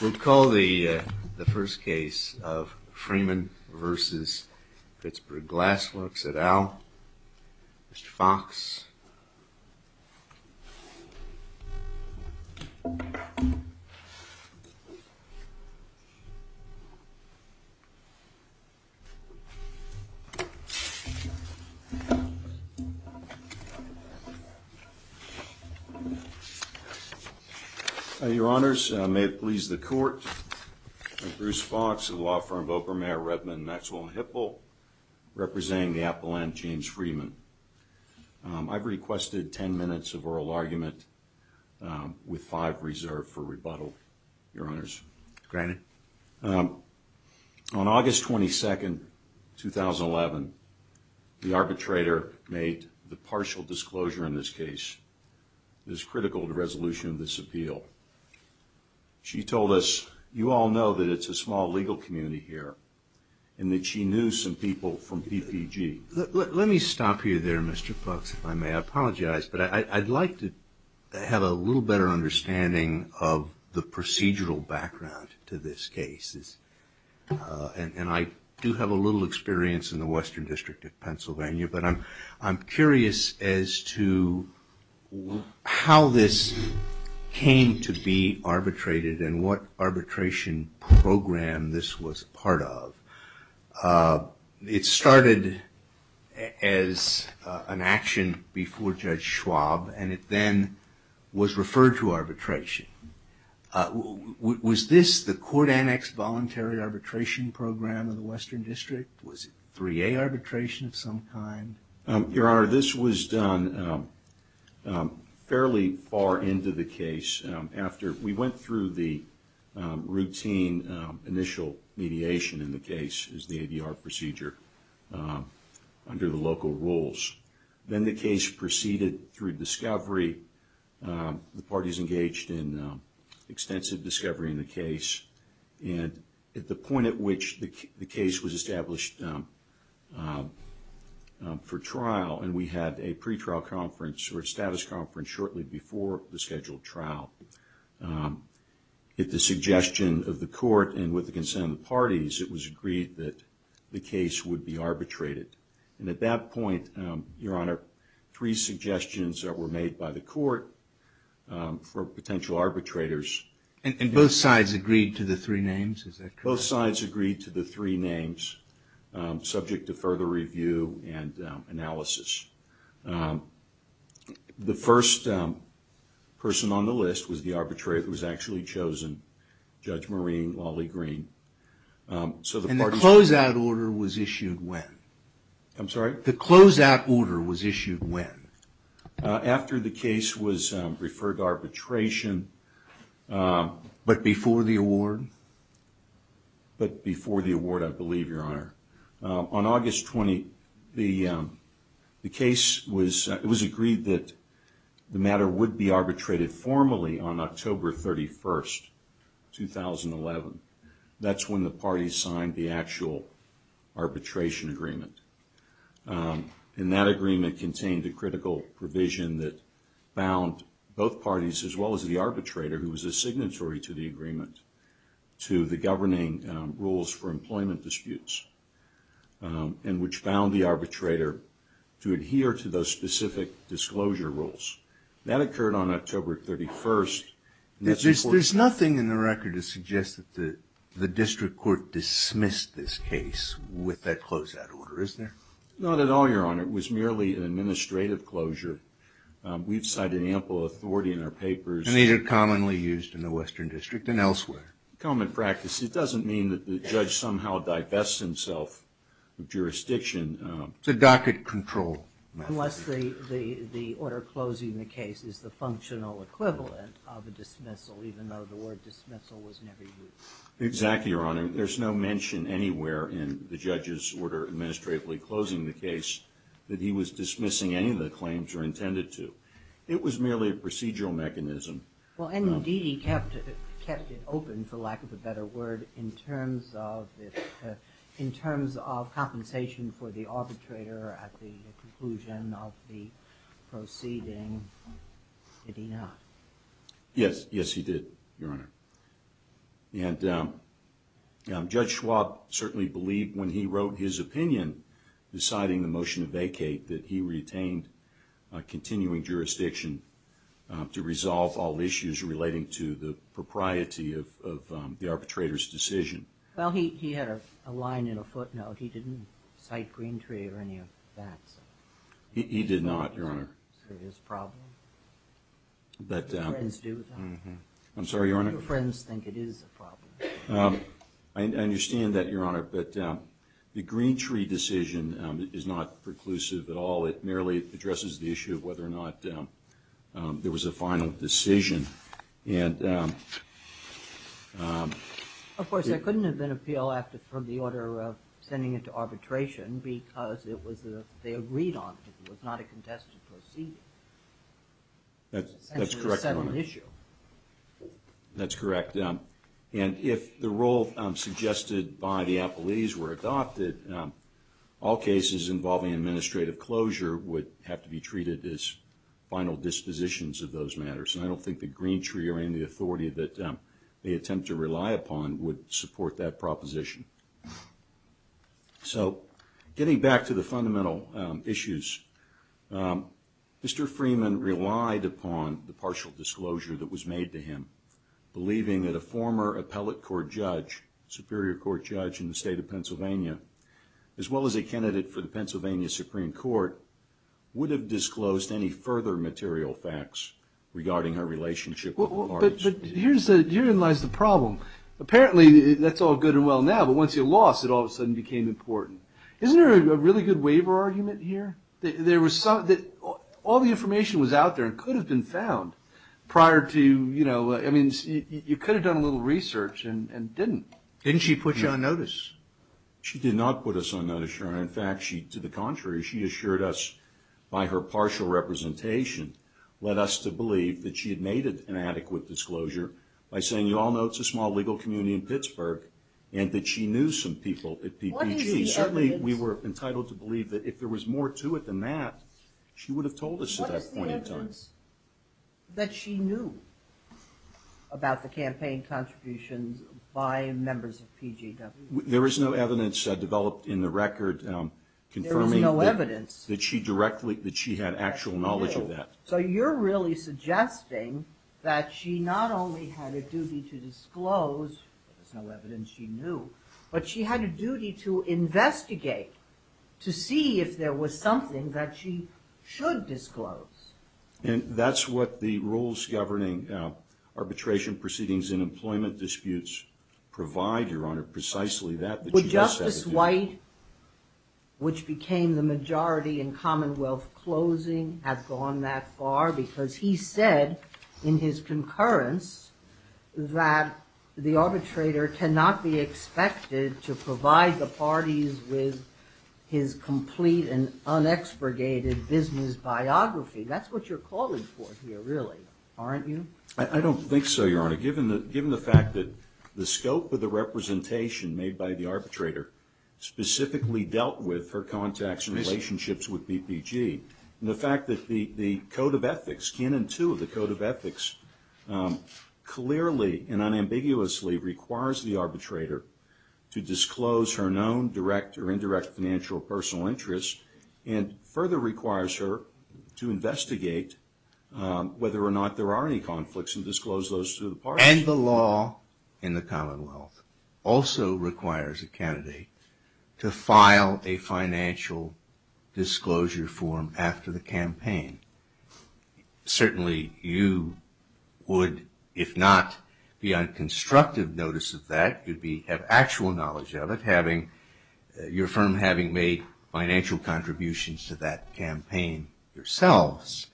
We'll call the first case of Freeman v. Pittsburgh Glass Works et al., Mr. Fox. Your Honors, may it please the Court, I'm Bruce Fox of the law firm of Oprah Mayer Redmond Maxwell & Hipple, representing the Appleland James Freeman. I've requested 10 minutes of oral argument, with five reserved for rebuttal, Your Honors. On August 22, 2011, the arbitrator made the partial disclosure in this case that is critical to the resolution of this appeal. She told us, you all know that it's a small legal community here, and that she knew some people from PPG. Let me stop you there, Mr. Fox, if I may. I apologize, but I'd like to have a little better understanding of the procedural background to this case. And I do have a little experience in the Western District of Pennsylvania, but I'm curious as to how this came to be arbitrated and what arbitration program this was part of. It started as an action before Judge Schwab, and it then was referred to arbitration. Was this the court-annexed voluntary arbitration program of the Western District? Was it 3A arbitration of some kind? Your Honor, this was done fairly far into the case. We went through the routine initial mediation in the case, the ADR procedure, under the local rules. Then the case proceeded through discovery. The parties engaged in extensive discovery in the case. And at the point at which the case was established for trial, and we had a pretrial conference or a status conference shortly before the scheduled trial, at the suggestion of the court and with the consent of the parties, it was agreed that the case would be arbitrated. And at that point, Your Honor, three suggestions were made by the court for potential arbitrators. And both sides agreed to the three names? Both sides agreed to the three names, subject to further review and analysis. The first person on the list was the arbitrator who was actually chosen, Judge Maureen Lawley-Green. And the closeout order was issued when? I'm sorry? The closeout order was issued when? After the case was referred to arbitration. But before the award? But before the award, I believe, Your Honor. On August 20th, the case was agreed that the matter would be arbitrated formally on October 31st, 2011. That's when the parties signed the actual arbitration agreement. And that agreement contained a critical provision that bound both parties, as well as the arbitrator who was a signatory to the agreement, to the governing rules for employment disputes, and which bound the arbitrator to adhere to those specific disclosure rules. That occurred on October 31st. There's nothing in the record to suggest that the district court dismissed this case with that closeout order, is there? Not at all, Your Honor. It was merely an administrative closure. We've cited ample authority in our papers. And these are commonly used in the Western District and elsewhere. Common practice. It doesn't mean that the judge somehow divests himself of jurisdiction. The docket control method. Unless the order closing the case is the functional equivalent of a dismissal, even though the word dismissal was never used. Exactly, Your Honor. There's no mention anywhere in the judge's order administratively closing the case that he was dismissing any of the claims or intended to. It was merely a procedural mechanism. Well, and indeed he kept it open, for lack of a better word, in terms of compensation for the arbitrator at the conclusion of the proceeding, did he not? Yes, yes he did, Your Honor. And Judge Schwab certainly believed when he wrote his opinion deciding the motion to vacate that he retained continuing jurisdiction to resolve all issues relating to the propriety of the arbitrator's decision. Well, he had a line in a footnote. He didn't cite Greentree or any of that. He did not, Your Honor. Is it his problem? Your friends do that. I'm sorry, Your Honor? Your friends think it is a problem. I don't think it is a problem at all. It merely addresses the issue of whether or not there was a final decision. Of course, there couldn't have been an appeal from the order sending it to arbitration because they agreed on it. It was not a contested proceeding. That's correct, Your Honor. It was a settled issue. That's correct. And if the role suggested by the apologies were adopted, all cases involving administrative closure would have to be treated as final dispositions of those matters. And I don't think that Greentree or any of the authority that they attempt to rely upon would support that proposition. So getting back to the fundamental issues, Mr. Freeman relied upon the partial disclosure that was made to him, believing that a former appellate court judge, superior court judge in the state of Pennsylvania, as well as a candidate for the Pennsylvania Supreme Court, would have disclosed any further material facts regarding her relationship with Lawrence. But herein lies the problem. Apparently that's all good and well now, but once you lost, it all of a sudden became important. Isn't there a really good waiver argument here? All the information was out there and could have been found prior to, you know, I mean, you could have done a little research and didn't. Didn't she put you on notice? She did not put us on notice, Your Honor. In fact, she, to the contrary, she assured us by her partial representation, led us to believe that she had made an adequate disclosure by saying, you all know it's a small legal community in Pittsburgh, and that she knew some people at PPG. Certainly we were entitled to believe that if there was more to it than that, she would have told us at that point in time. There is no evidence that she knew about the campaign contributions by members of PGW. There is no evidence developed in the record confirming that she directly, that she had actual knowledge of that. So you're really suggesting that she not only had a duty to disclose, there was no evidence she knew, but she had a duty to investigate, to see if there was something that she should disclose. And that's what the rules governing arbitration proceedings in employment disputes provide, Your Honor, precisely that. Would Justice White, which became the majority in Commonwealth closing, have gone that far? Because he said in his concurrence that the arbitrator cannot be expected to provide the parties with his complete and unexpurgated business biography. That's what you're calling for here, really, aren't you? I don't think so, Your Honor. Given the fact that the scope of the representation made by the arbitrator specifically dealt with her contacts and relationships with PPG, and the fact that the Code of Ethics, Canon 2 of the Code of Ethics, clearly and unambiguously requires the arbitrator to disclose her known direct or indirect financial or personal interests, and further requires her to investigate whether or not there are any conflicts and disclose those to the parties. And the law in the Commonwealth also requires a candidate to file a financial disclosure form after the campaign. Certainly you would, if not be on constructive notice of that, you'd have actual knowledge of it, having your firm having made financial contributions to that campaign yourselves.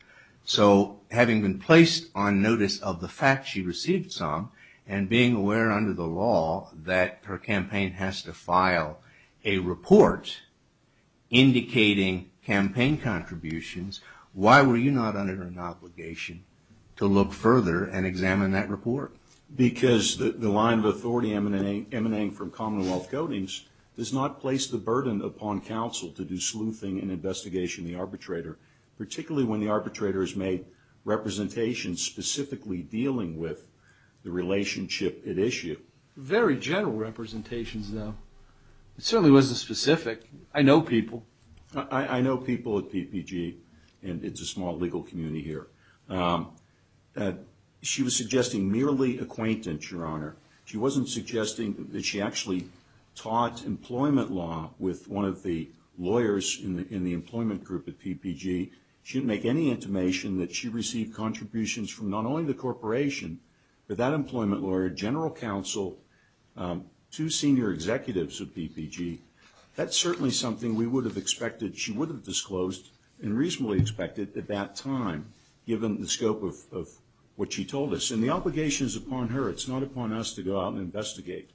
So having been placed on notice of the fact she received some, and being aware under the law that her campaign has to file a report indicating campaign contributions, why were you not under an obligation to look further and examine that report? Because the line of authority emanating from Commonwealth codings does not place the burden upon counsel to do sleuthing and investigation of the arbitrator, particularly when the arbitrator has made representations specifically dealing with the relationship at issue. Very general representations, though. It certainly wasn't specific. I know people. I know people at PPG, and it's a small legal community here. She was suggesting merely acquaintance, Your Honor. She wasn't suggesting that she actually taught employment law with one of the lawyers in the employment group at PPG. She didn't make any intimation that she received contributions from not only the corporation, but that employment lawyer, general counsel, two senior executives at PPG. That's certainly something we would have expected. She would have disclosed and reasonably expected at that time. Given the scope of what she told us. And the obligation is upon her. It's not upon us to go out and investigate.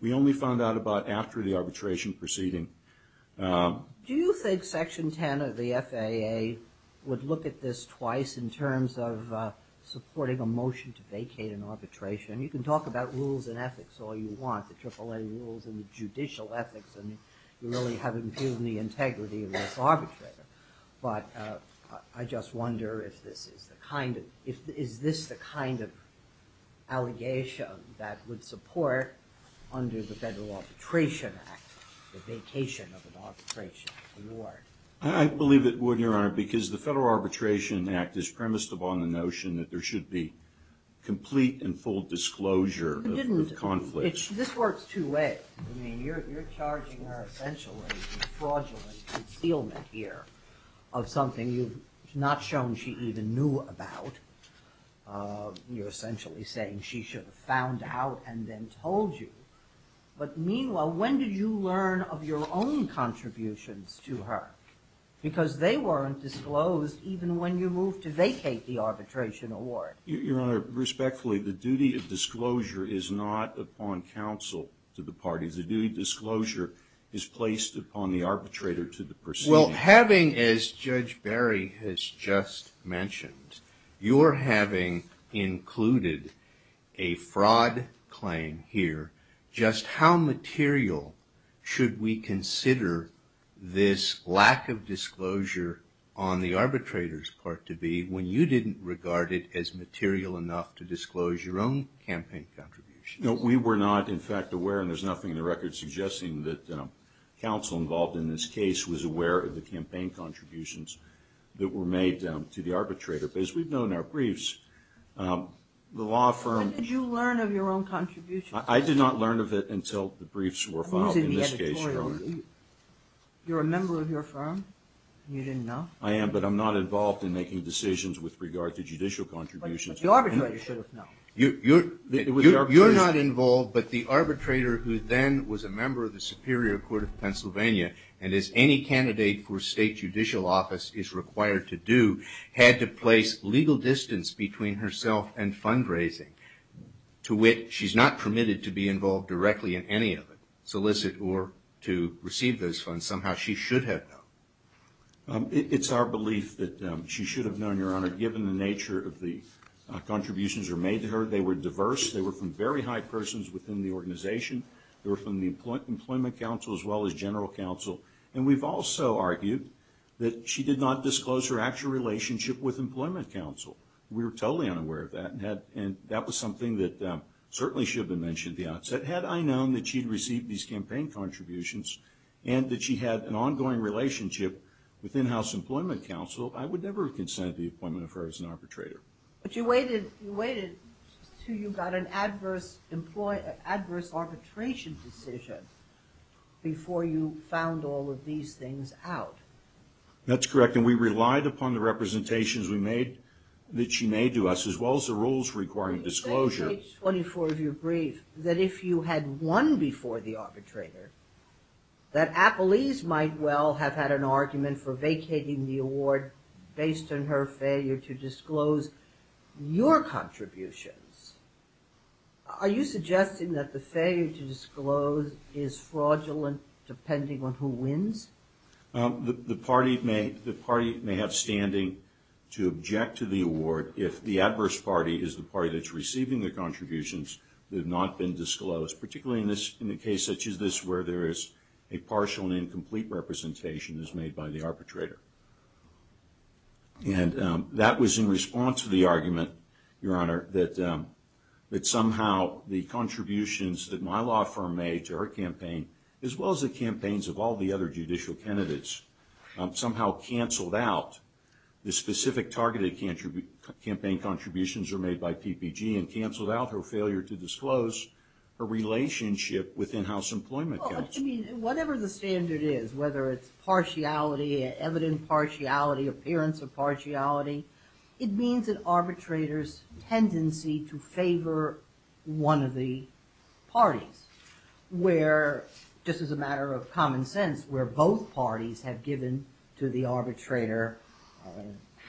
We only found out about after the arbitration proceeding. Do you think Section 10 of the FAA would look at this twice in terms of supporting a motion to vacate an arbitration? You can talk about rules and ethics all you want, the AAA rules and the judicial ethics, and you really haven't given the integrity of this arbitrator. But I just wonder if this is the kind of, is this the kind of allegation that would support under the Federal Arbitration Act the vacation of an arbitration? I believe it would, Your Honor, because the Federal Arbitration Act is premised upon the notion that there should be complete and full disclosure of conflict. This works two ways. I mean, you're charging her essentially with fraudulent concealment here of something you've not shown she even knew about. You're essentially saying she should have found out and then told you. But meanwhile, when did you learn of your own contributions to her? Because they weren't disclosed even when you moved to vacate the arbitration award. Your Honor, respectfully, the duty of disclosure is not upon counsel to the parties. The duty of disclosure is placed upon the arbitrator to the proceedings. Well, having, as Judge Barry has just mentioned, you're having included a fraud claim here, just how material should we consider this lack of disclosure on the arbitrator's part to be when you didn't regard it as material enough to disclose your own campaign contributions? No, we were not, in fact, aware, and there's nothing in the record suggesting that counsel involved in this case was aware of the campaign contributions that were made to the arbitrator. But as we've known in our briefs, the law firm – When did you learn of your own contributions? I did not learn of it until the briefs were filed. Who's in the editorial? You're a member of your firm and you didn't know? I am, but I'm not involved in making decisions with regard to judicial contributions. But the arbitrator should have known. You're not involved, but the arbitrator who then was a member of the Superior Court of Pennsylvania and, as any candidate for state judicial office is required to do, had to place legal distance between herself and fundraising, to which she's not permitted to be involved directly in any of it, solicit or to receive those funds. Somehow she should have known. It's our belief that she should have known, Your Honor, given the nature of the contributions that were made to her. They were diverse. They were from very high persons within the organization. They were from the Employment Council as well as General Counsel. And we've also argued that she did not disclose her actual relationship with Employment Counsel. We were totally unaware of that, and that was something that certainly should have been mentioned at the outset. Had I known that she'd received these campaign contributions and that she had an ongoing relationship with in-house Employment Counsel, I would never have consented to the appointment of her as an arbitrator. But you waited until you got an adverse arbitration decision before you found all of these things out. That's correct, and we relied upon the representations that she made to us, as well as the rules requiring disclosure. In page 24 of your brief, that if you had won before the arbitrator, that Appelese might well have had an argument for vacating the award based on her failure to disclose your contributions. Are you suggesting that the failure to disclose is fraudulent depending on who wins? The party may have standing to object to the award if the adverse party is the party that's receiving the contributions that have not been disclosed, particularly in a case such as this where there is a partial and incomplete representation as made by the arbitrator. And that was in response to the argument, Your Honor, that somehow the contributions that my law firm made to our campaign, as well as the campaigns of all the other judicial candidates, somehow canceled out the specific targeted campaign contributions that were made by PPG and canceled out her failure to disclose her relationship with in-house employment. Whatever the standard is, whether it's partiality, evident partiality, appearance of partiality, it means an arbitrator's tendency to favor one of the parties. Where, just as a matter of common sense, where both parties have given to the arbitrator,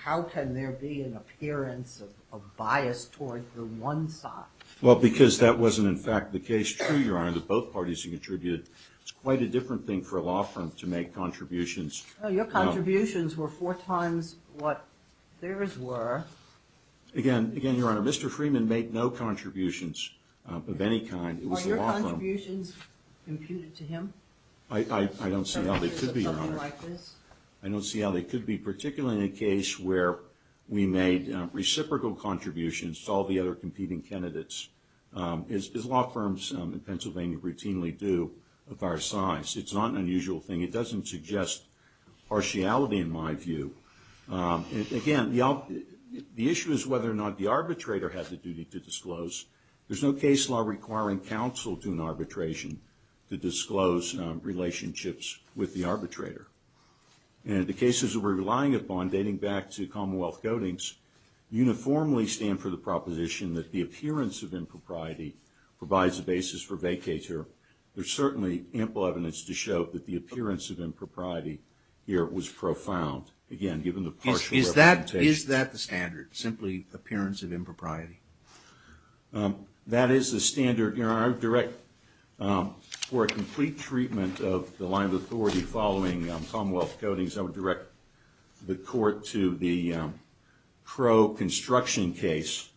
how can there be an appearance of bias toward the one side? Well, because that wasn't, in fact, the case true, Your Honor, that both parties contributed. It's quite a different thing for a law firm to make contributions. Well, your contributions were four times what theirs were. Again, Your Honor, Mr. Freeman made no contributions of any kind. Are your contributions imputed to him? I don't see how they could be, Your Honor. Something like this? I don't see how they could be, particularly in a case where we made reciprocal contributions to all the other competing candidates, as law firms in Pennsylvania routinely do, of our size. It's not an unusual thing. It doesn't suggest partiality, in my view. Again, the issue is whether or not the arbitrator had the duty to disclose. There's no case law requiring counsel to an arbitration to disclose relationships with the arbitrator. And the cases that we're relying upon, dating back to Commonwealth codings, uniformly stand for the proposition that the appearance of impropriety provides a basis for vacatur. There's certainly ample evidence to show that the appearance of impropriety here was profound, again, given the partial representation. Is that the standard, simply appearance of impropriety? That is the standard, Your Honor. I would direct, for a complete treatment of the line of authority following Commonwealth codings, I would direct the court to the Crow construction case,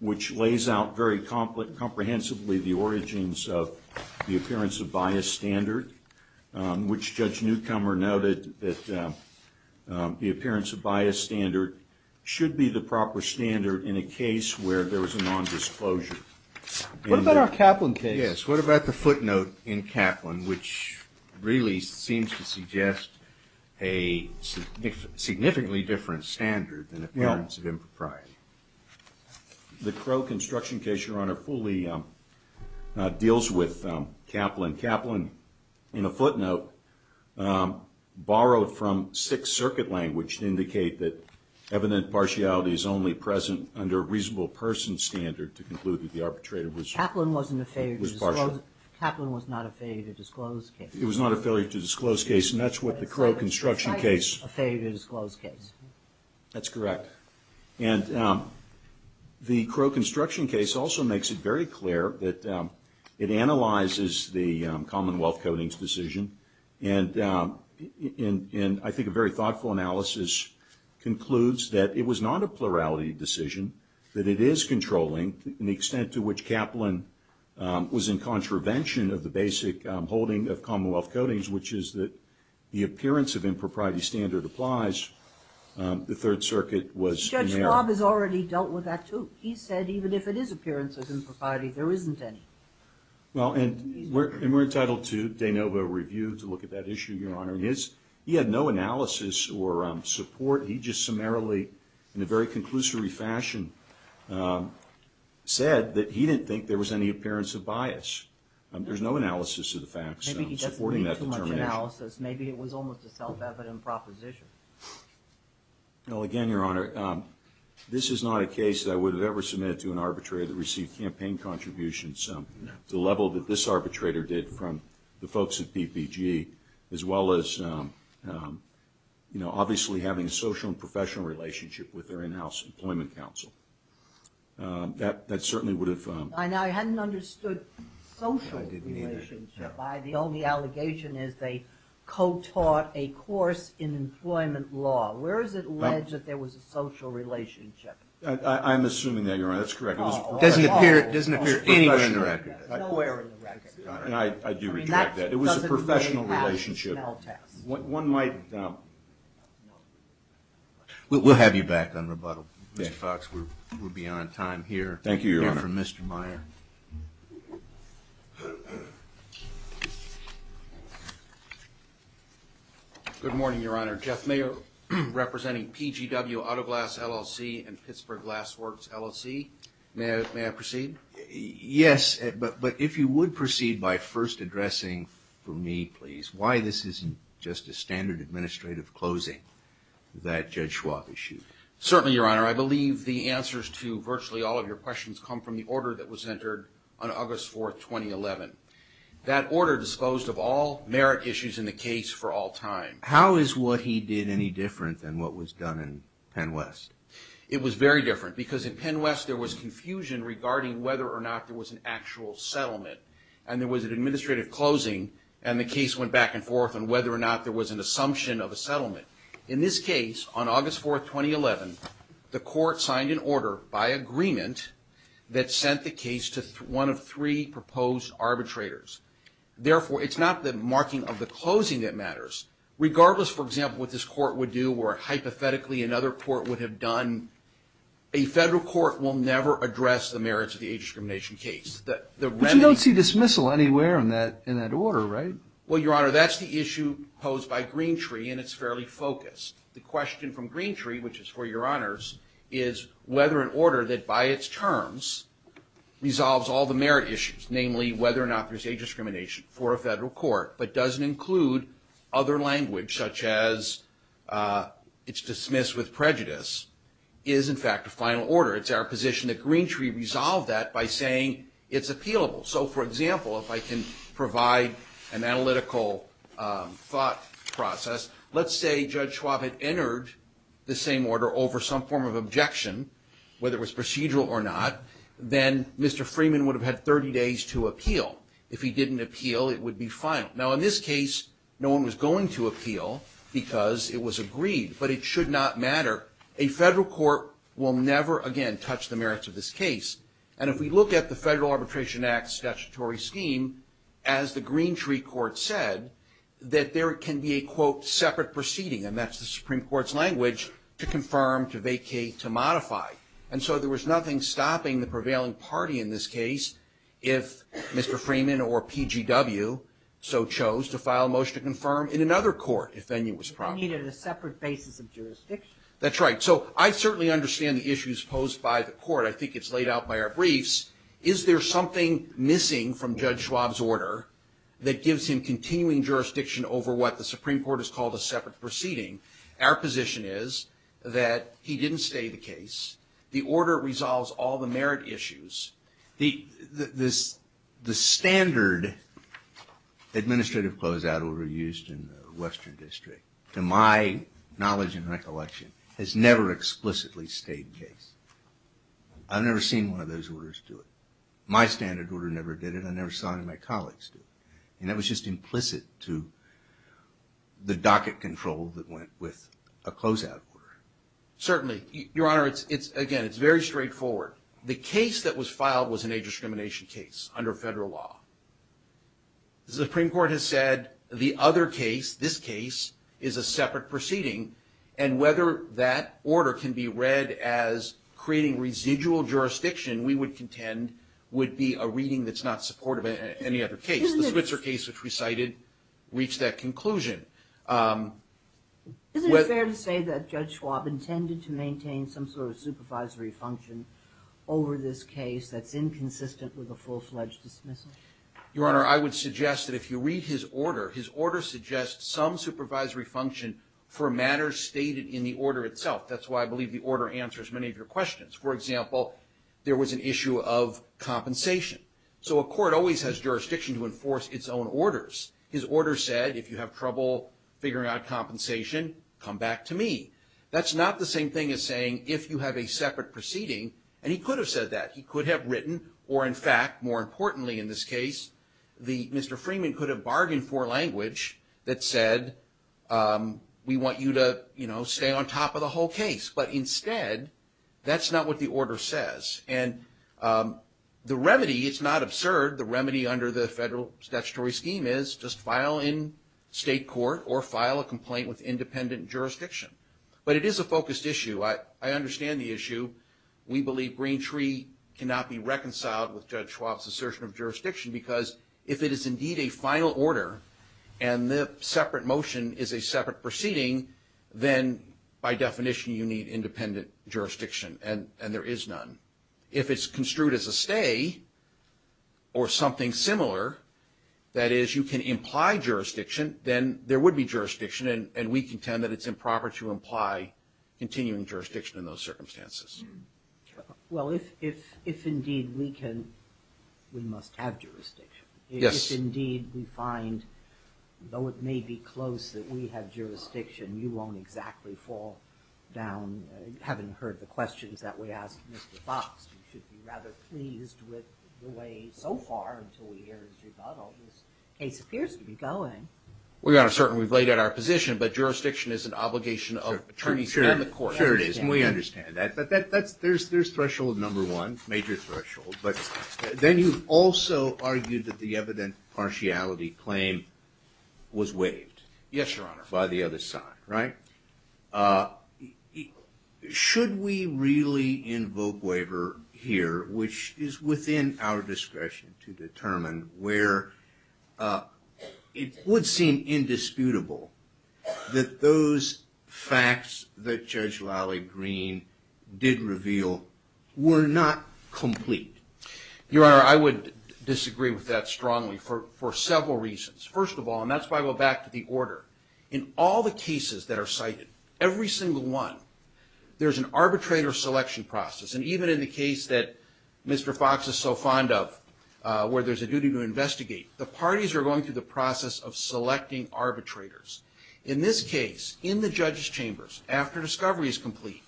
which lays out very comprehensively the origins of the appearance of bias standard, which Judge Newcomer noted that the appearance of bias standard should be the proper standard in a case where there was a nondisclosure. What about our Kaplan case? Yes, what about the footnote in Kaplan, which really seems to suggest a significantly different standard than appearance of impropriety? The Crow construction case, Your Honor, fully deals with Kaplan. Kaplan, in a footnote, borrowed from Sixth Circuit language to indicate that evident partiality is only present under a reasonable person standard to conclude that the arbitrator was partial. Kaplan wasn't a failure to disclose. Kaplan was not a failure to disclose case. It was not a failure to disclose case, and that's what the Crow construction case. Kaplan was slightly a failure to disclose case. That's correct. And the Crow construction case also makes it very clear that it analyzes the Commonwealth Codings decision, and I think a very thoughtful analysis concludes that it was not a plurality decision, that it is controlling in the extent to which Kaplan was in contravention of the basic holding of Commonwealth Codings, which is that the appearance of impropriety standard applies. The Third Circuit was in error. Judge Schwab has already dealt with that, too. He said even if it is appearance of impropriety, there isn't any. Well, and we're entitled to de novo review to look at that issue, Your Honor. He had no analysis or support. He just summarily, in a very conclusory fashion, said that he didn't think there was any appearance of bias. There's no analysis of the facts supporting that determination. Maybe he doesn't need too much analysis. Maybe it was almost a self-evident proposition. Well, again, Your Honor, this is not a case that I would have ever submitted to an arbitrator that received campaign contributions to the level that this arbitrator did from the folks at PPG, as well as, you know, obviously having a social and professional relationship with their in-house employment counsel. That certainly would have... I hadn't understood social relationship. The only allegation is they co-taught a course in employment law. Where is it alleged that there was a social relationship? I'm assuming that you're right. That's correct. Doesn't appear anywhere in the record. Nowhere in the record. And I do reject that. It was a professional relationship. One might... We'll have you back on rebuttal, Mr. Fox. We'll be on time here. Thank you, Your Honor. Here for Mr. Meyer. Good morning, Your Honor. Jeff Meyer, representing PGW Autoglass LLC and Pittsburgh Glassworks LLC. May I proceed? Yes. But if you would proceed by first addressing for me, please, why this isn't just a standard administrative closing that Judge Schwab issued. Certainly, Your Honor. I believe the answers to virtually all of your questions come from the order that was entered on August 4, 2011. That order disclosed of all merit issues in the case for all time. How is what he did any different than what was done in Penn West? It was very different. Because in Penn West, there was confusion regarding whether or not there was an actual settlement. And there was an administrative closing, and the case went back and forth on whether or not there was an assumption of a settlement. In this case, on August 4, 2011, the court signed an order by agreement that sent the case to one of three proposed arbitrators. Therefore, it's not the marking of the closing that matters. Regardless, for example, what this court would do or hypothetically another court would have done, a federal court will never address the merits of the age discrimination case. But you don't see dismissal anywhere in that order, right? Well, Your Honor, that's the issue posed by Greentree, and it's fairly focused. The question from Greentree, which is for Your Honors, is whether an order that, by its terms, resolves all the merit issues, namely whether or not there's age discrimination for a federal court, but doesn't include other language, such as it's dismissed with prejudice, is, in fact, a final order. It's our position that Greentree resolved that by saying it's appealable. So, for example, if I can provide an analytical thought process, let's say Judge Schwab had entered the same order over some form of objection, whether it was procedural or not, then Mr. Freeman would have had 30 days to appeal. If he didn't appeal, it would be final. Now, in this case, no one was going to appeal because it was agreed, but it should not matter. A federal court will never, again, touch the merits of this case. And if we look at the Federal Arbitration Act statutory scheme, as the Greentree court said, that there can be a, quote, separate proceeding, and that's the Supreme Court's language, to confirm, to vacate, to modify. And so there was nothing stopping the prevailing party in this case if Mr. Freeman or PGW so chose to file a motion to confirm in another court, if any was proper. They needed a separate basis of jurisdiction. That's right. So I certainly understand the issues posed by the court. I think it's laid out by our briefs. Is there something missing from Judge Schwab's order that gives him continuing jurisdiction over what the Supreme Court has called a separate proceeding? Our position is that he didn't stay the case. The order resolves all the merit issues. The standard administrative closeout order used in the Western District, I've never seen one of those orders do it. My standard order never did it. I never saw any of my colleagues do it. And that was just implicit to the docket control that went with a closeout order. Certainly. Your Honor, again, it's very straightforward. The case that was filed was an age discrimination case under federal law. The Supreme Court has said the other case, this case, is a separate proceeding, and whether that order can be read as creating residual jurisdiction, we would contend, would be a reading that's not supportive of any other case. The Switzer case, which we cited, reached that conclusion. Isn't it fair to say that Judge Schwab intended to maintain some sort of supervisory function over this case that's inconsistent with a full-fledged dismissal? Your Honor, I would suggest that if you read his order, his order suggests some supervisory function for matters stated in the order itself. That's why I believe the order answers many of your questions. For example, there was an issue of compensation. So a court always has jurisdiction to enforce its own orders. His order said if you have trouble figuring out compensation, come back to me. That's not the same thing as saying if you have a separate proceeding, and he could have said that. He could have written, or in fact, more importantly in this case, Mr. Freeman could have bargained for language that said, we want you to stay on top of the whole case. But instead, that's not what the order says. And the remedy, it's not absurd, the remedy under the federal statutory scheme is just file in state court or file a complaint with independent jurisdiction. But it is a focused issue. I understand the issue. We believe Green Tree cannot be reconciled with Judge Schwab's assertion of jurisdiction because if it is indeed a final order and the separate motion is a separate proceeding, then by definition you need independent jurisdiction, and there is none. If it's construed as a stay or something similar, that is, you can imply jurisdiction, then there would be jurisdiction, and we contend that it's improper to imply continuing jurisdiction in those circumstances. Well, if indeed we can, we must have jurisdiction. Yes. If indeed we find, though it may be close that we have jurisdiction, you won't exactly fall down, having heard the questions that we asked Mr. Fox, you should be rather pleased with the way so far until we hear his rebuttal, this case appears to be going. We are certain we've laid out our position, but jurisdiction is an obligation of attorneys and the court. Sure it is, and we understand that. There's threshold number one, major threshold, but then you've also argued that the evident partiality claim was waived. Yes, Your Honor. By the other side, right? Should we really invoke waiver here, which is within our discretion to determine, where it would seem indisputable that those facts that Judge Lally Green did reveal were not complete? Your Honor, I would disagree with that strongly for several reasons. First of all, and that's why I go back to the order, in all the cases that are cited, every single one, there's an arbitrator selection process, and even in the case that Mr. Fox is so fond of, where there's a duty to investigate, the parties are going through the process of selecting arbitrators. In this case, in the judge's chambers, after discovery is complete,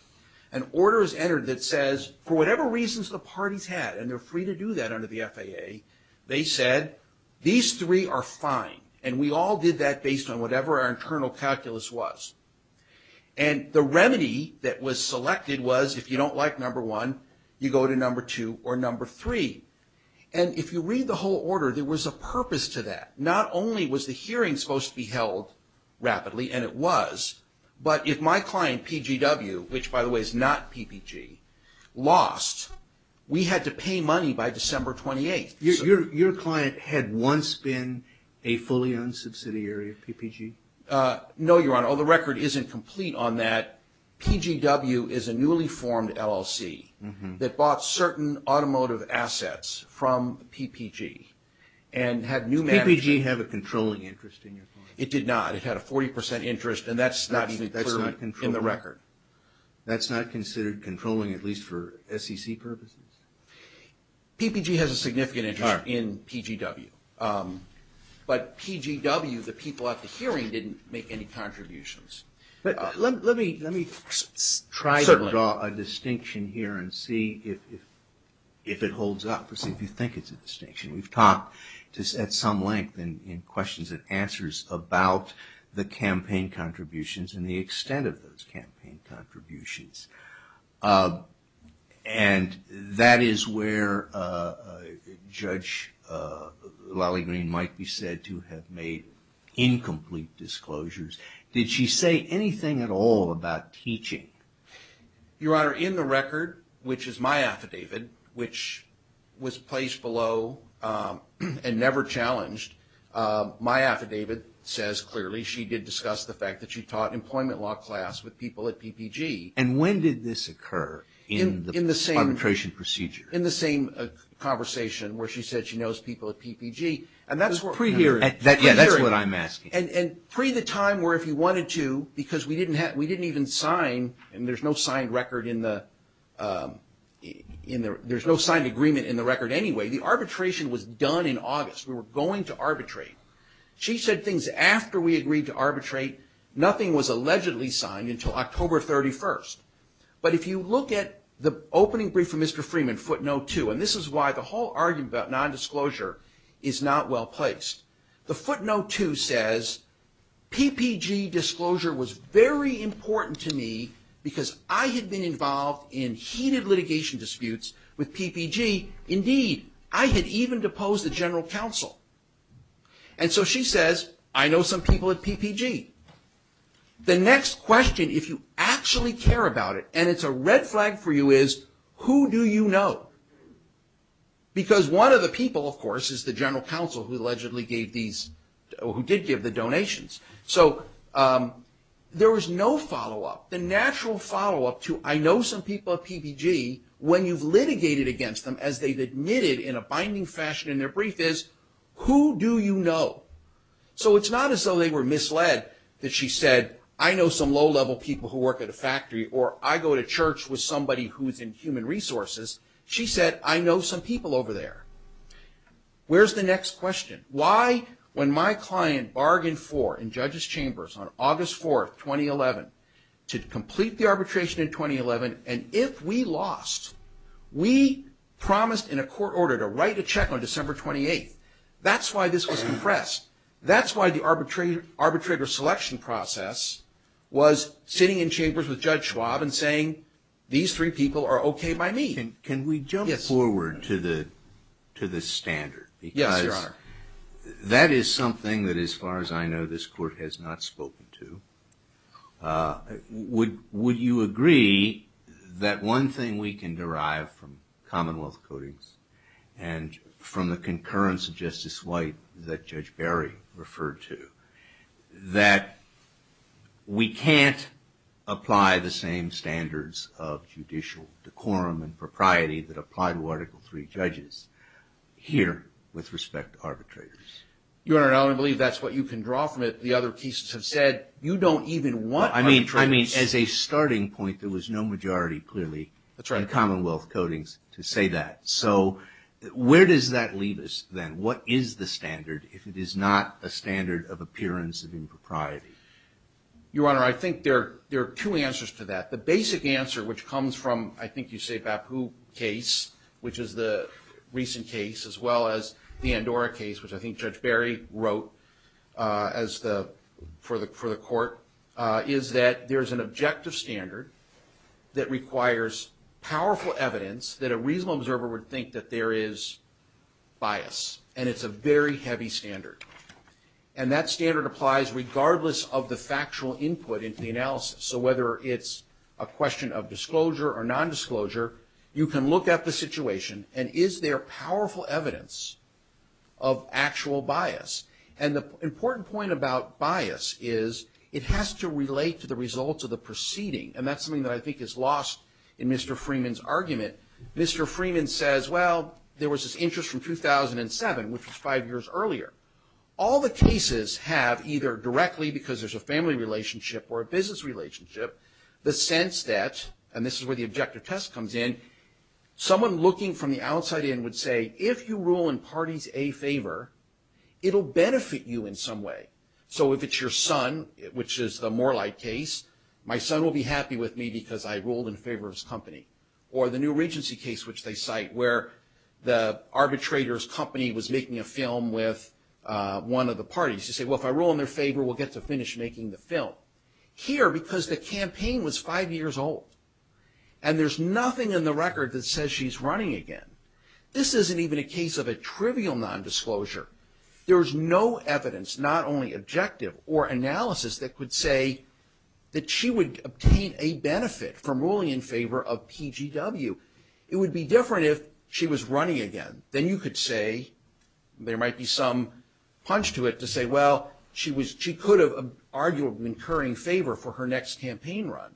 an order is entered that says, for whatever reasons the parties had, and they're free to do that under the FAA, they said, these three are fine, and we all did that based on whatever our internal calculus was. And the remedy that was selected was, if you don't like number one, you go to number two or number three. And if you read the whole order, there was a purpose to that. Not only was the hearing supposed to be held rapidly, and it was, but if my client, PGW, which, by the way, is not PPG, lost, we had to pay money by December 28th. Your client had once been a fully-owned subsidiary of PPG? No, Your Honor, the record isn't complete on that. PGW is a newly-formed LLC that bought certain automotive assets from PPG and had new management. Did PPG have a controlling interest in your client? It did not. It had a 40% interest, and that's not in the record. That's not considered controlling, at least for SEC purposes? PPG has a significant interest in PGW, but PGW, the people at the hearing, didn't make any contributions. Let me try to draw a distinction here and see if it holds up, if you think it's a distinction. We've talked at some length in questions and answers about the campaign contributions and the extent of those campaign contributions. And that is where Judge Lally Green might be said to have made incomplete disclosures. Did she say anything at all about teaching? Your Honor, in the record, which is my affidavit, which was placed below and never challenged, my affidavit says clearly she did discuss the fact that she taught employment law class with people at PPG. And when did this occur in the arbitration procedure? In the same conversation where she said she knows people at PPG. Pre-hearing. Yeah, that's what I'm asking. And pre the time where if you wanted to, because we didn't even sign, and there's no signed record in the, there's no signed agreement in the record anyway, the arbitration was done in August. We were going to arbitrate. She said things after we agreed to arbitrate. Nothing was allegedly signed until October 31st. But if you look at the opening brief from Mr. Freeman, footnote two, and this is why the whole argument about nondisclosure is not well placed. The footnote two says, PPG disclosure was very important to me because I had been involved in heated litigation disputes with PPG. Indeed, I had even deposed the general counsel. And so she says, I know some people at PPG. The next question, if you actually care about it, and it's a red flag for you, is who do you know? Because one of the people, of course, is the general counsel who allegedly gave these, who did give the donations. So there was no follow-up. The natural follow-up to, I know some people at PPG, when you've litigated against them, as they've admitted in a binding fashion in their brief, is who do you know? So it's not as though they were misled that she said, I know some low-level people who work at a factory, or I go to church with somebody who's in human resources. She said, I know some people over there. Where's the next question? Why, when my client bargained for, in judges' chambers, on August 4th, 2011, to complete the arbitration in 2011, and if we lost, we promised in a court order to write a check on December 28th. That's why this was compressed. That's why the arbitrator selection process was sitting in chambers with Judge Schwab and saying, these three people are okay by me. Can we jump forward to the standard? Yes, you are. Because that is something that, as far as I know, this court has not spoken to. Would you agree that one thing we can derive from Commonwealth codings and from the concurrence of Justice White that Judge Barry referred to, that we can't apply the same standards of judicial decorum and propriety that apply to Article III judges here with respect to arbitrators? Your Honor, I don't believe that's what you can draw from it. The other cases have said you don't even want arbitrators. I mean, as a starting point, there was no majority, clearly, in Commonwealth codings to say that. So where does that leave us, then? What is the standard if it is not a standard of appearance of impropriety? Your Honor, I think there are two answers to that. The basic answer, which comes from, I think you say, Bapu case, which is the recent case, as well as the Andorra case, which I think Judge Barry wrote for the court, is that there's an objective standard that requires powerful evidence that a reasonable observer would think that there is bias, and it's a very heavy standard. And that standard applies regardless of the factual input into the analysis. So whether it's a question of disclosure or nondisclosure, you can look at the situation, and is there powerful evidence of actual bias? And the important point about bias is it has to relate to the results of the proceeding, and that's something that I think is lost in Mr. Freeman's argument. Mr. Freeman says, well, there was this interest from 2007, which was five years earlier. All the cases have either directly, because there's a family relationship or a business relationship, the sense that, and this is where the objective test comes in, someone looking from the outside in would say, if you rule in parties A favor, it'll benefit you in some way. So if it's your son, which is the Morelite case, my son will be happy with me because I ruled in favor of his company. Or the new Regency case, which they cite, where the arbitrator's company was making a film with one of the parties. You say, well, if I rule in their favor, we'll get to finish making the film. Here, because the campaign was five years old, and there's nothing in the record that says she's running again, this isn't even a case of a trivial nondisclosure. There's no evidence, not only objective or analysis, that could say that she would obtain a benefit from ruling in favor of PGW. It would be different if she was running again. Then you could say, there might be some punch to it to say, well, she could have argued an incurring favor for her next campaign run.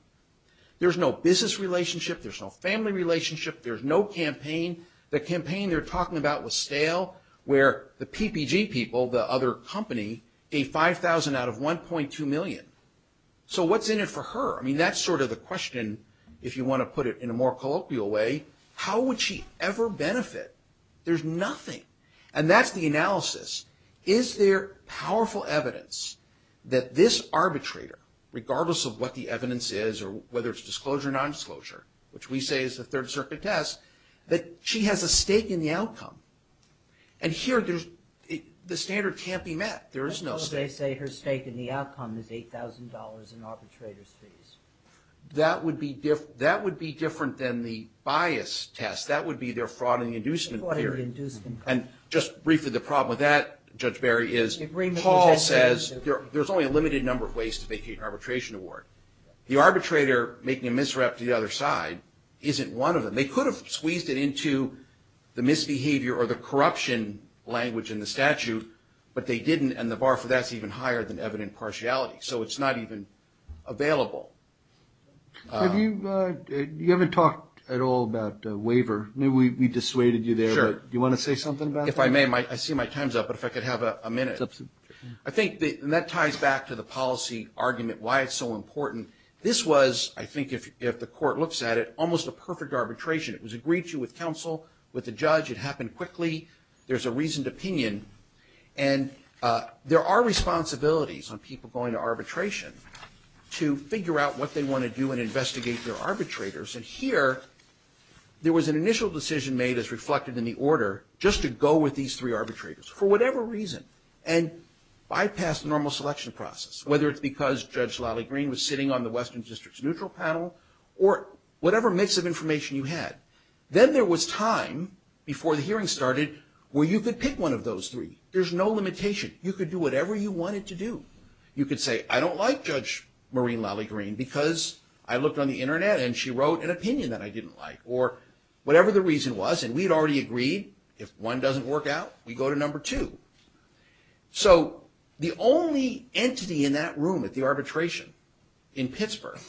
There's no business relationship, there's no family relationship, there's no campaign. The campaign they're talking about was stale, where the PPG people, the other company, gave 5,000 out of 1.2 million. So what's in it for her? I mean, that's sort of the question, if you want to put it in a more colloquial way. How would she ever benefit? There's nothing. And that's the analysis. Is there powerful evidence that this arbitrator, regardless of what the evidence is, or whether it's disclosure or nondisclosure, which we say is the Third Circuit test, that she has a stake in the outcome. And here, the standard can't be met. There is no stake. What if they say her stake in the outcome is $8,000 in arbitrator's fees? That would be different than the bias test. That would be their fraud and inducement theory. And just briefly, the problem with that, Judge Barry, is Paul says, there's only a limited number of ways to make an arbitration award. The arbitrator making a misrep to the other side isn't one of them. They could have squeezed it into the misbehavior or the corruption language in the statute, but they didn't, and the bar for that's even higher than evident partiality. So it's not even available. You haven't talked at all about the waiver. We dissuaded you there, but do you want to say something about that? If I may, I see my time's up, but if I could have a minute. I think that ties back to the policy argument, why it's so important. This was, I think if the court looks at it, almost a perfect arbitration. It was agreed to with counsel, with the judge. It happened quickly. There's a reasoned opinion. And there are responsibilities on people going to arbitration to figure out what they want to do and investigate their arbitrators. And here, there was an initial decision made as reflected in the order just to go with these three arbitrators for whatever reason. And bypass the normal selection process. Whether it's because Judge Lally Green was sitting on the Western District's neutral panel or whatever mix of information you had. Then there was time before the hearing started where you could pick one of those three. There's no limitation. You could do whatever you wanted to do. You could say, I don't like Judge Maureen Lally Green because I looked on the internet and she wrote an opinion that I didn't like. Or whatever the reason was, and we'd already agreed if one doesn't work out, we go to number two. So the only entity in that room at the arbitration in Pittsburgh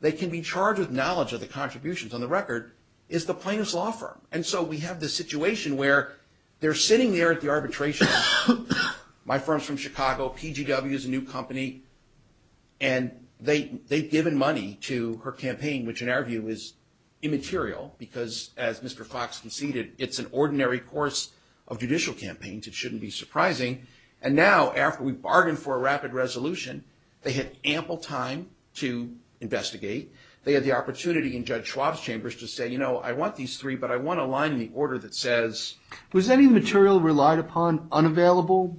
that can be charged with knowledge of the contributions on the record is the plaintiff's law firm. And so we have this situation where they're sitting there at the arbitration. My firm's from Chicago. PGW is a new company. And they've given money to her campaign, which in our view is immaterial because as Mr. Fox conceded, it's an ordinary course of judicial campaigns. It shouldn't be surprising. And now after we bargained for a rapid resolution, they had ample time to investigate. They had the opportunity in Judge Schwab's chambers to say, you know, I want these three, but I want a line in the order that says. Was any material relied upon unavailable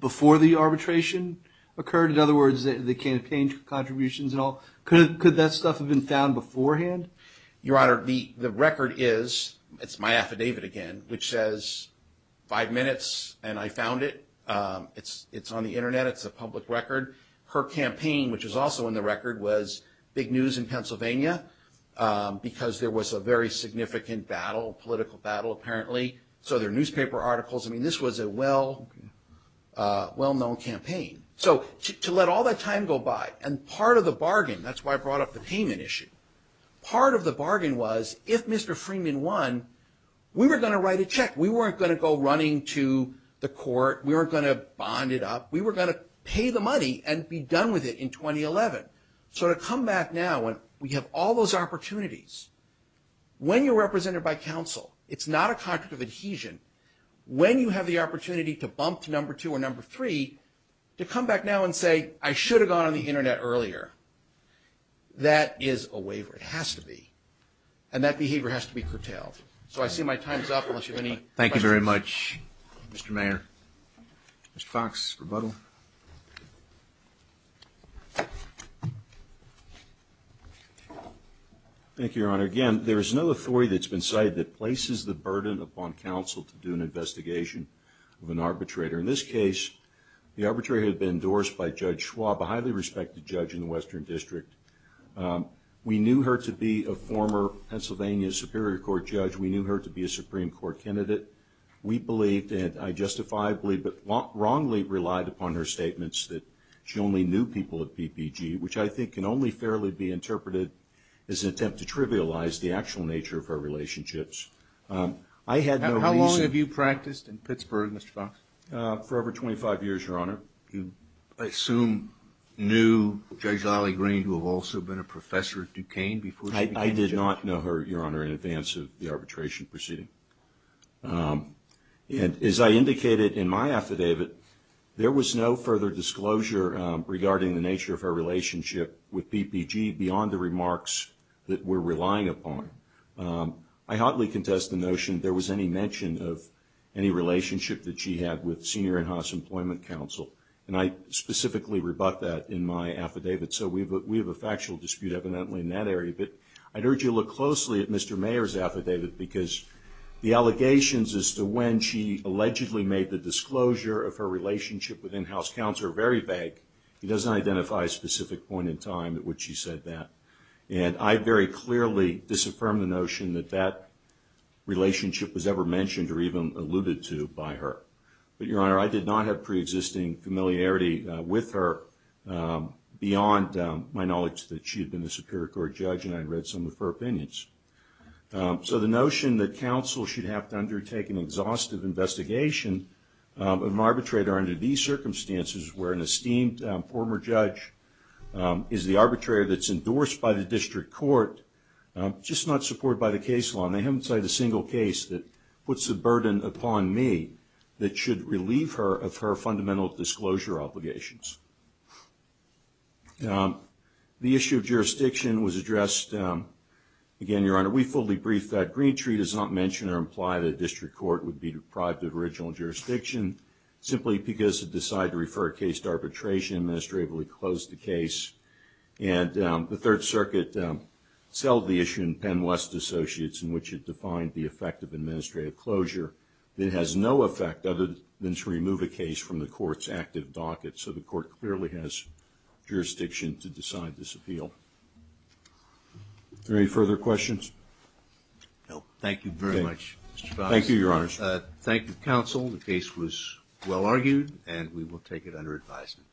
before the arbitration occurred? In other words, the campaign contributions and all. Could that stuff have been found beforehand? Your Honor, the record is, it's my affidavit again, which says five minutes and I found it. It's on the Internet. It's a public record. Her campaign, which is also in the record, was big news in Pennsylvania because there was a very significant battle, political battle apparently. So there are newspaper articles. I mean, this was a well-known campaign. So to let all that time go by, and part of the bargain, that's why I brought up the payment issue, part of the bargain was if Mr. Freeman won, we were going to write a check. We weren't going to go running to the court. We weren't going to bond it up. We were going to pay the money and be done with it in 2011. So to come back now and we have all those opportunities. When you're represented by counsel, it's not a contract of adhesion. When you have the opportunity to bump to number two or number three, to come back now and say I should have gone on the Internet earlier, that is a waiver. It has to be. And that behavior has to be curtailed. So I see my time is up unless you have any questions. Thank you very much, Mr. Mayor. Mr. Fox, rebuttal. Thank you, Your Honor. Again, there is no authority that's been cited that places the burden upon counsel to do an investigation of an arbitrator. In this case, the arbitrator had been endorsed by Judge Schwab, a highly respected judge in the Western District. We knew her to be a former Pennsylvania Superior Court judge. We knew her to be a Supreme Court candidate. We believed, and I justifiably but wrongly relied upon her statements that she only knew people at PPG, which I think can only fairly be interpreted as an attempt to trivialize the actual nature of her relationships. How long have you practiced in Pittsburgh, Mr. Fox? For over 25 years, Your Honor. You, I assume, knew Judge Ali Green, who had also been a professor at Duquesne before she became judge? I did not know her, Your Honor, in advance of the arbitration proceeding. And as I indicated in my affidavit, there was no further disclosure regarding the nature of her relationship with PPG beyond the remarks that we're relying upon. I hotly contest the notion there was any mention of any relationship that she had with senior in-house employment counsel. And I specifically rebut that in my affidavit. So we have a factual dispute evidently in that area. But I'd urge you to look closely at Mr. Mayer's affidavit, because the allegations as to when she allegedly made the disclosure of her relationship with in-house counsel are very vague. It doesn't identify a specific point in time at which she said that. And I very clearly disaffirm the notion that that relationship was ever but, Your Honor, I did not have pre-existing familiarity with her beyond my knowledge that she had been a Superior Court judge and I had read some of her opinions. So the notion that counsel should have to undertake an exhaustive investigation of an arbitrator under these circumstances, where an esteemed former judge is the arbitrator that's endorsed by the district court, just not supported by the case law. And I haven't cited a single case that puts a burden upon me that should relieve her of her fundamental disclosure obligations. The issue of jurisdiction was addressed. Again, Your Honor, we fully briefed that. Green tree does not mention or imply that a district court would be deprived of original jurisdiction simply because it decided to refer a case to arbitration and administratively close the case. And the Third Circuit settled the issue in Penn-West Associates in which it defined the effect of administrative closure. It has no effect other than to remove a case from the court's active docket. So the court clearly has jurisdiction to decide this appeal. Are there any further questions? No. Thank you very much, Mr. Fox. Thank you, Your Honor. Thank you, counsel. The case was well argued and we will take it under advisement.